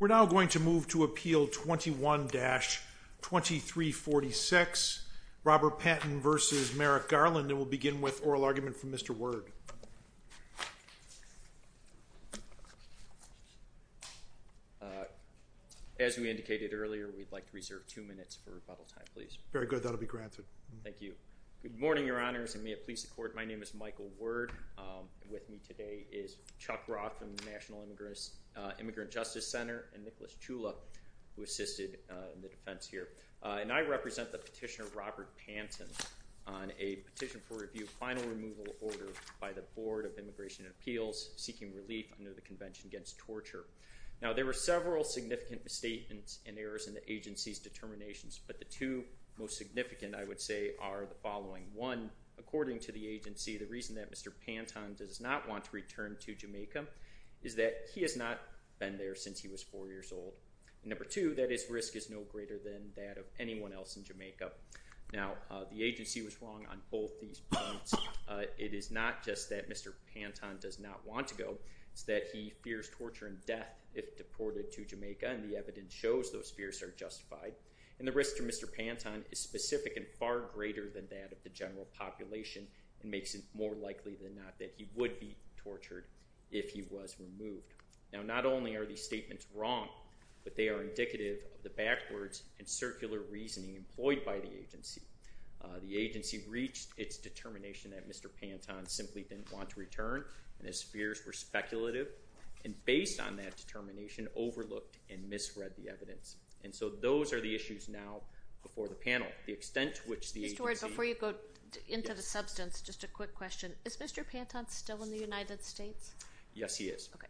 We're now going to move to Appeal 21-2346, Robert Panton v. Merrick Garland, and we'll begin with oral argument from Mr. Ward. As we indicated earlier, we'd like to reserve two minutes for rebuttal time, please. Very good. That'll be granted. Thank you. Good morning, Your Honors, and may it please the Court, my name is Michael Ward, and with me today is Chuck Roth from the National Immigrant Justice Center, and Nicholas Chula, who assisted in the defense here, and I represent the petitioner, Robert Panton, on a petition for review of final removal order by the Board of Immigration and Appeals, seeking relief under the Convention Against Torture. Now, there were several significant misstatements and errors in the agency's determinations, but the two most significant, I would say, are the following. One, according to the agency, the reason that Mr. Panton does not want to return to Jamaica is that he has not been there since he was four years old. Number two, that his risk is no greater than that of anyone else in Jamaica. Now, the agency was wrong on both these points. It is not just that Mr. Panton does not want to go, it's that he fears torture and death if deported to Jamaica, and the evidence shows those fears are justified. And the risk to Mr. Panton is specific and far greater than that of the general population, and makes it more likely than not that he would be tortured if he was removed. Now, not only are these statements wrong, but they are indicative of the backwards and circular reasoning employed by the agency. The agency reached its determination that Mr. Panton simply didn't want to return, and his fears were speculative, and based on that determination, overlooked and misread the evidence. And so those are the issues now before the panel. The extent to which the agency... Mr. Ward, before you go into the substance, just a quick question. Is Mr. Panton still in the United States? Yes, he is. Okay.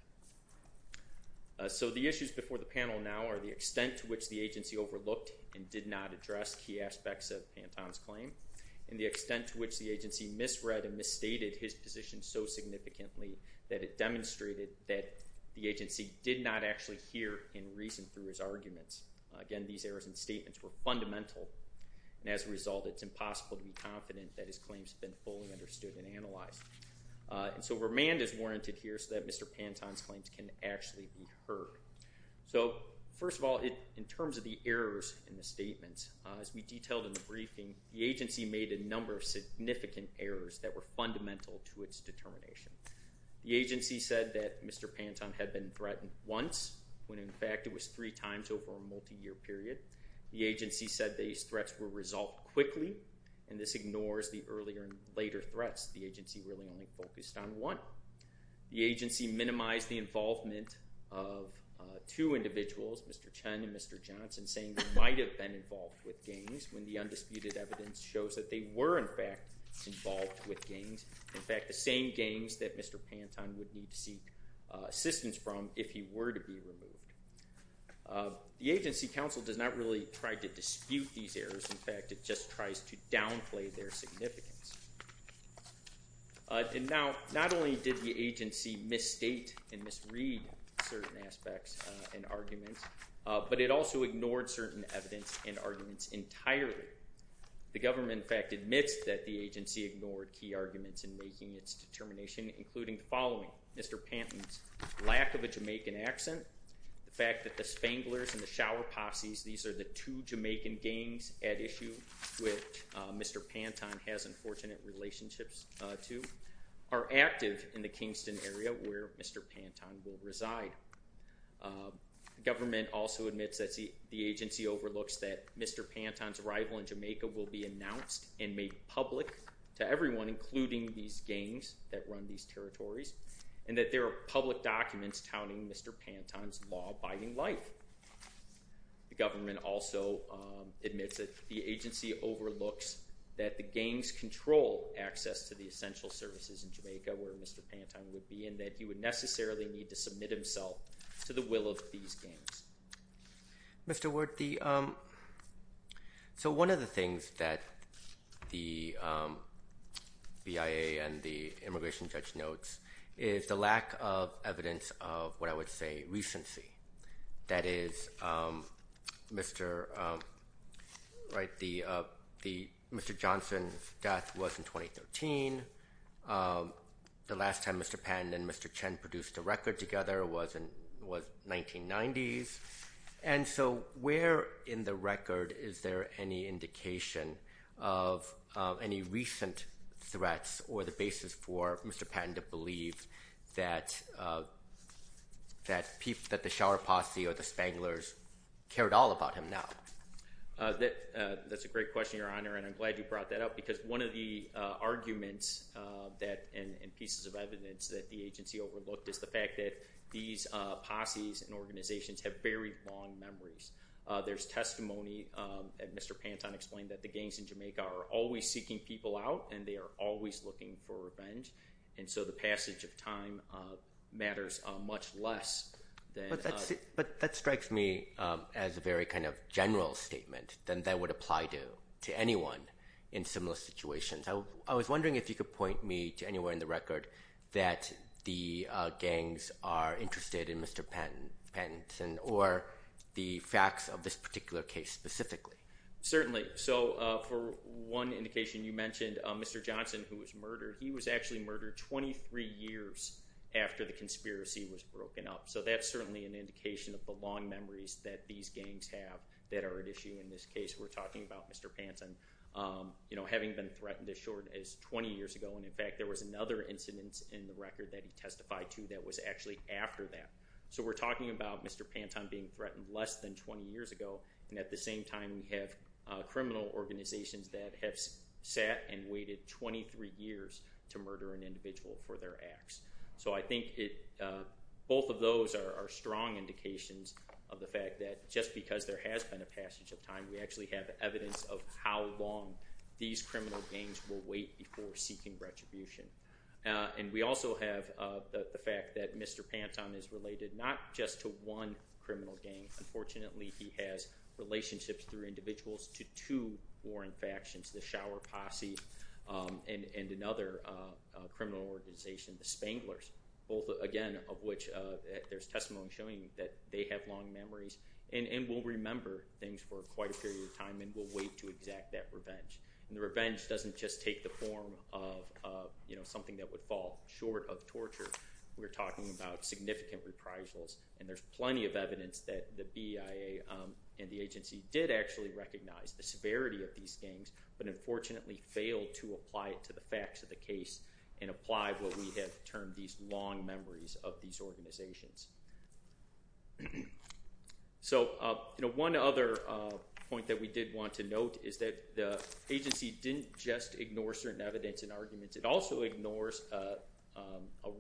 So the issues before the panel now are the extent to which the agency overlooked and did not address key aspects of Panton's claim, and the extent to which the agency misread and misstated his position so significantly that it demonstrated that the agency did not actually hear and reason through his arguments. Again, these errors in statements were fundamental, and as a result, it's impossible to be confident that his claims have been fully understood and analyzed. And so remand is warranted here so that Mr. Panton's claims can actually be heard. So first of all, in terms of the errors in the statements, as we detailed in the briefing, the agency made a number of significant errors that were fundamental to its determination. The agency said that Mr. Panton had been threatened once, when in fact it was three times over a multi-year period. The agency said these threats were resolved quickly, and this ignores the earlier and later threats. The agency really only focused on one. The agency minimized the involvement of two individuals, Mr. Chen and Mr. Johnson, saying they might have been involved with gangs when the undisputed evidence shows that they were in fact involved with gangs, in fact, the same gangs that Mr. Panton would need to seek assistance from if he were to be removed. The agency counsel does not really try to dispute these errors. In fact, it just tries to downplay their significance. And now, not only did the agency misstate and misread certain aspects and arguments, but it also ignored certain evidence and arguments entirely. The government, in fact, admits that the agency ignored key arguments in making its determination, including the following. Mr. Panton's lack of a Jamaican accent, the fact that the Spanglers and the Shower Posses, these are the two Jamaican gangs at issue which Mr. Panton has unfortunate relationships to, are active in the Kingston area where Mr. Panton will reside. The government also admits that the agency overlooks that Mr. Panton's arrival in Jamaica will be announced and made public to everyone, including these gangs that run these territories, and that there are public documents touting Mr. Panton's law-abiding life. The government also admits that the agency overlooks that the gangs control access to the essential services in Jamaica where Mr. Panton would be, and that he would necessarily need to submit himself to the will of these gangs. Mr. Ward, so one of the things that the BIA and the immigration judge notes is the lack of evidence of what I would say recency. That is, Mr. Johnson's death was in 2013, the last time Mr. Panton and Mr. Chen produced a record together was 1990s, and so where in the record is there any indication of any recent threats or the basis for Mr. Panton to believe that the Shower Posse or the Spanglers cared all about him now? That's a great question, Your Honor, and I'm glad you brought that up because one of the fact that these posses and organizations have very long memories. There's testimony that Mr. Panton explained that the gangs in Jamaica are always seeking people out, and they are always looking for revenge, and so the passage of time matters much less than... But that strikes me as a very kind of general statement than that would apply to anyone in similar situations. I was wondering if you could point me to anywhere in the record that the gangs are interested in Mr. Panton or the facts of this particular case specifically. Certainly. So for one indication, you mentioned Mr. Johnson, who was murdered. He was actually murdered 23 years after the conspiracy was broken up. So that's certainly an indication of the long memories that these gangs have that are at issue in this case. We're talking about Mr. Panton, you know, having been threatened as short as 20 years ago, and in fact there was another incident in the record that he testified to that was actually after that. So we're talking about Mr. Panton being threatened less than 20 years ago, and at the same time we have criminal organizations that have sat and waited 23 years to murder an individual for their acts. So I think both of those are strong indications of the fact that just because there has been a passage of time, we actually have evidence of how long these criminal gangs will wait before seeking retribution. And we also have the fact that Mr. Panton is related not just to one criminal gang. Unfortunately, he has relationships through individuals to two warring factions, the Shower Posse and another criminal organization, the Spanglers, both again of which there's testimony showing that they have long memories, and will remember things for quite a period of time and will wait to exact that revenge. And the revenge doesn't just take the form of, you know, something that would fall short of torture. We're talking about significant reprisals, and there's plenty of evidence that the BIA and the agency did actually recognize the severity of these gangs, but unfortunately failed to apply it to the facts of the case and apply what we have termed these long memories of these organizations. So one other point that we did want to note is that the agency didn't just ignore certain evidence and arguments. It also ignores a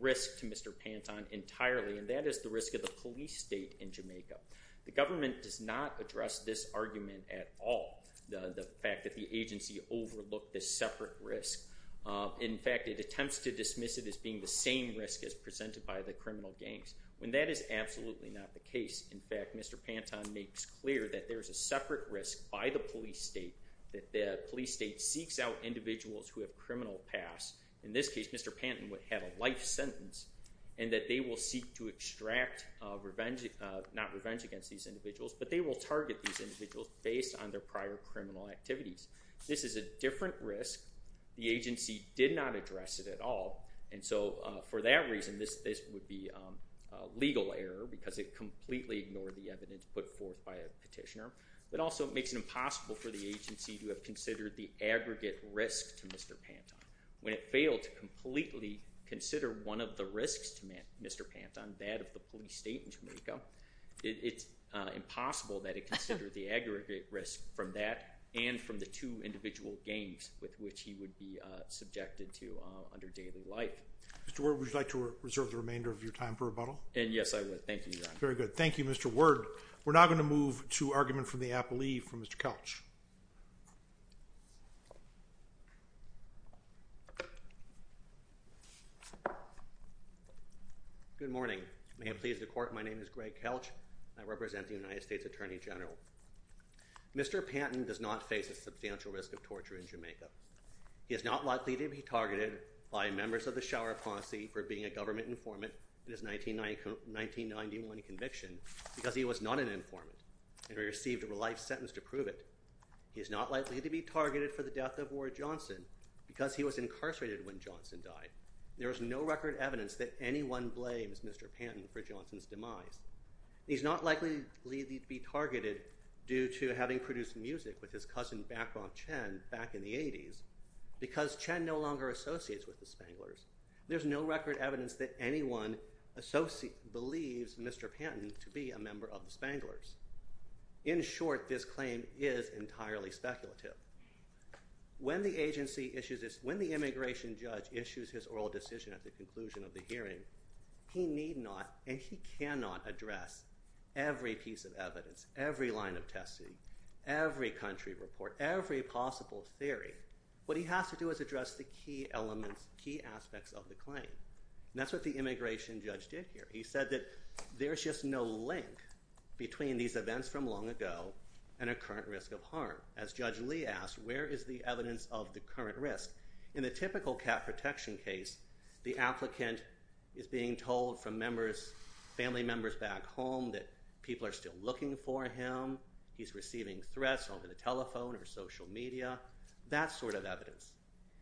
risk to Mr. Panton entirely, and that is the risk of the police state in Jamaica. The government does not address this argument at all, the fact that the agency overlooked this separate risk. In fact, it attempts to dismiss it as being the same risk as presented by the criminal gangs, when that is absolutely not the case. In fact, Mr. Panton makes clear that there's a separate risk by the police state, that the police state seeks out individuals who have criminal pasts. In this case, Mr. Panton would have a life sentence, and that they will seek to extract revenge, not revenge against these individuals, but they will target these individuals based on their prior criminal activities. This is a different risk. The agency did not address it at all, and so for that reason, this would be a legal error because it completely ignored the evidence put forth by a petitioner, but also makes it impossible for the agency to have considered the aggregate risk to Mr. Panton. When it failed to completely consider one of the risks to Mr. Panton, that of the police state in Jamaica, it's impossible that it considered the aggregate risk from that and from the two individual gangs with which he would be subjected to under daily life. Mr. Ward, would you like to reserve the remainder of your time for rebuttal? And yes, I would. Thank you, Your Honor. Very good. Thank you, Mr. Ward. We're now going to move to argument from the appellee, from Mr. Kelch. Good morning. May it please the court, my name is Greg Kelch, and I represent the United States Attorney General. Mr. Panton does not face a substantial risk of torture in Jamaica. He is not likely to be targeted by members of the Shower Posse for being a government informant in his 1991 conviction because he was not an informant and received a life sentence to prove it. He is not likely to be targeted for the death of Ward Johnson because he was incarcerated when Johnson died. There is no record evidence that anyone blames Mr. Panton for Johnson's demise. He is not likely to be targeted due to having produced music with his cousin, Bachron Chen, back in the 80s, because Chen no longer associates with the Spanglers. There's no record evidence that anyone believes Mr. Panton to be a member of the Spanglers. In short, this claim is entirely speculative. When the immigration judge issues his oral decision at the conclusion of the hearing, he need not, and he cannot, address every piece of evidence, every line of testing, every country report, every possible theory. What he has to do is address the key elements, key aspects of the claim, and that's what the immigration judge did here. He said that there's just no link between these events from long ago and a current risk of harm. As Judge Lee asked, where is the evidence of the current risk? In the typical cat protection case, the applicant is being told from family members back home that people are still looking for him, he's receiving threats over the telephone or social media, that sort of evidence.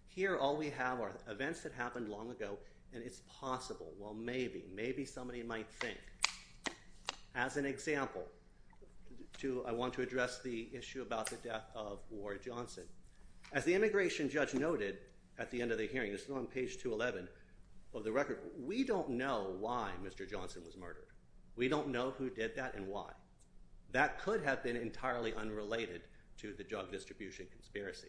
Here all we have are events that happened long ago, and it's possible, well maybe, maybe somebody might think. As an example, I want to address the issue about the death of War Johnson. As the immigration judge noted at the end of the hearing, this is on page 211 of the record, we don't know why Mr. Johnson was murdered. We don't know who did that and why. That could have been entirely unrelated to the drug distribution conspiracy.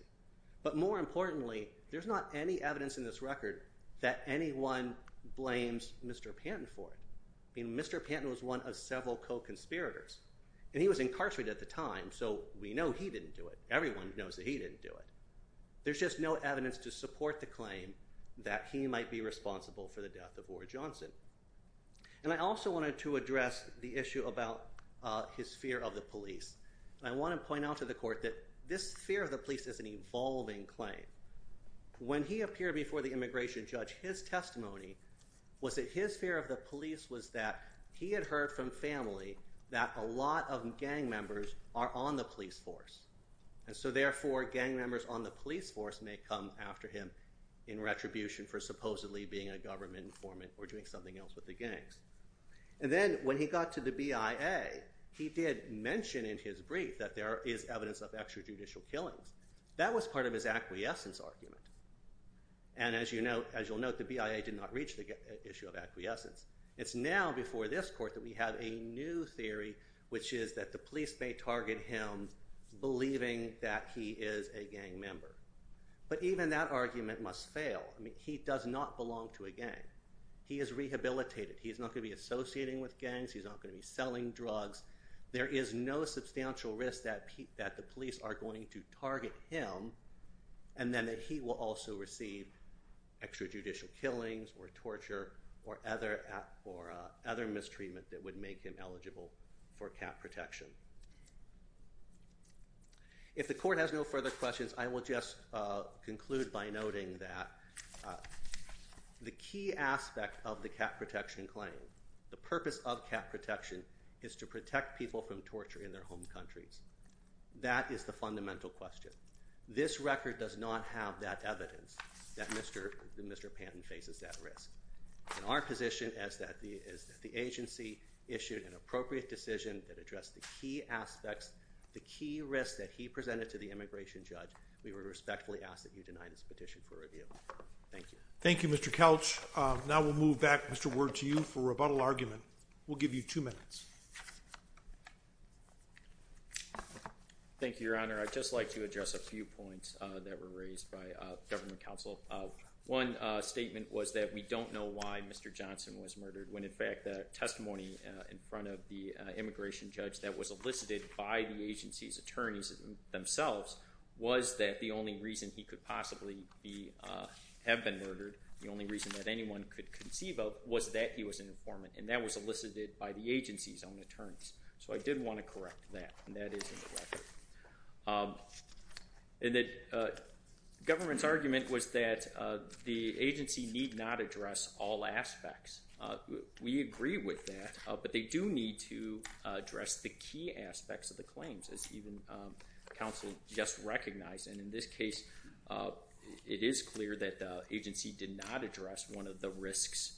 But more importantly, there's not any evidence in this record that anyone blames Mr. Panton for it. I mean, Mr. Panton was one of several co-conspirators, and he was incarcerated at the time, so we know he didn't do it. Everyone knows that he didn't do it. There's just no evidence to support the claim that he might be responsible for the death of War Johnson. And I also wanted to address the issue about his fear of the police. I want to point out to the court that this fear of the police is an evolving claim. When he appeared before the immigration judge, his testimony was that his fear of the police was that he had heard from family that a lot of gang members are on the police force. And so therefore, gang members on the police force may come after him in retribution for supposedly being a government informant or doing something else with the gangs. And then when he got to the BIA, he did mention in his brief that there is evidence of extrajudicial killings. That was part of his acquiescence argument. And as you'll note, the BIA did not reach the issue of acquiescence. It's now before this court that we have a new theory, which is that the police may target him believing that he is a gang member. But even that argument must fail. He does not belong to a gang. He is rehabilitated. He's not going to be associating with gangs. He's not going to be selling drugs. There is no substantial risk that the police are going to target him and then that he will also receive extrajudicial killings or torture or other mistreatment that would make him eligible for cat protection. If the court has no further questions, I will just conclude by noting that the key aspect of the cat protection claim, the purpose of cat protection is to protect people from torture in their home countries. That is the fundamental question. This record does not have that evidence that Mr. Panton faces that risk. And our position is that the agency issued an appropriate decision that addressed the key aspects, the key risks that he presented to the immigration judge. We would respectfully ask that you deny this petition for review. Thank you. Thank you, Mr. Couch. Now we'll move back, Mr. Ward, to you for rebuttal argument. We'll give you two minutes. Thank you, Your Honor. I'd just like to address a few points that were raised by government counsel. One statement was that we don't know why Mr. Johnson was murdered when, in fact, the testimony in front of the immigration judge that was elicited by the agency's attorneys themselves was that the only reason he could possibly have been murdered, the only reason that anyone could conceive of, was that he was an informant and that was elicited by the agency's own attorneys. So I did want to correct that, and that is in the record. And that government's argument was that the agency need not address all aspects. We agree with that, but they do need to address the key aspects of the claims, as even counsel just recognized. And in this case, it is clear that the agency did not address one of the risks,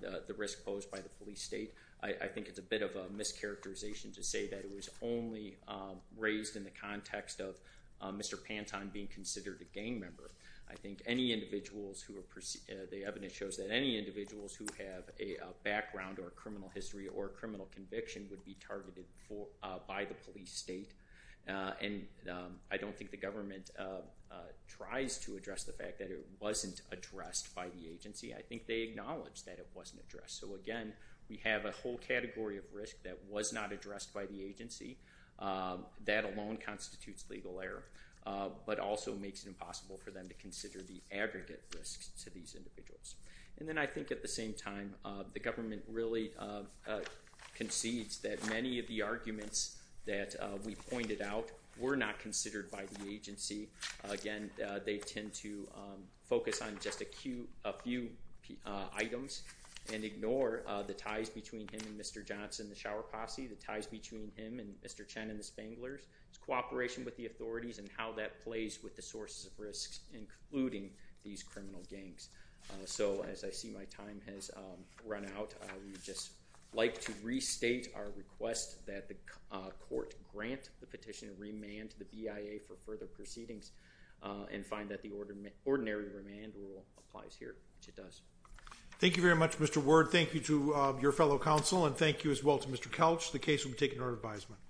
the risk posed by the police state. I think it's a bit of a mischaracterization to say that it was only raised in the context of Mr. Panton being considered a gang member. I think any individuals who are, the evidence shows that any individuals who have a background or a criminal history or a criminal conviction would be targeted by the police state. And I don't think the government tries to address the fact that it wasn't addressed by the agency. I think they acknowledged that it wasn't addressed. So again, we have a whole category of risk that was not addressed by the agency. That alone constitutes legal error, but also makes it impossible for them to consider the aggregate risks to these individuals. And then I think at the same time, the government really concedes that many of the arguments that we pointed out were not considered by the agency. Again, they tend to focus on just a few items and ignore the ties between him and Mr. Johnson, the shower posse, the ties between him and Mr. Chen and the Spanglers, his cooperation with the authorities and how that plays with the sources of risks, including these criminal gangs. So, as I see my time has run out, I would just like to restate our request that the and find that the ordinary remand rule applies here, which it does. Thank you very much, Mr. Ward. Thank you to your fellow counsel and thank you as well to Mr. Couch. The case will be taken to our advisement.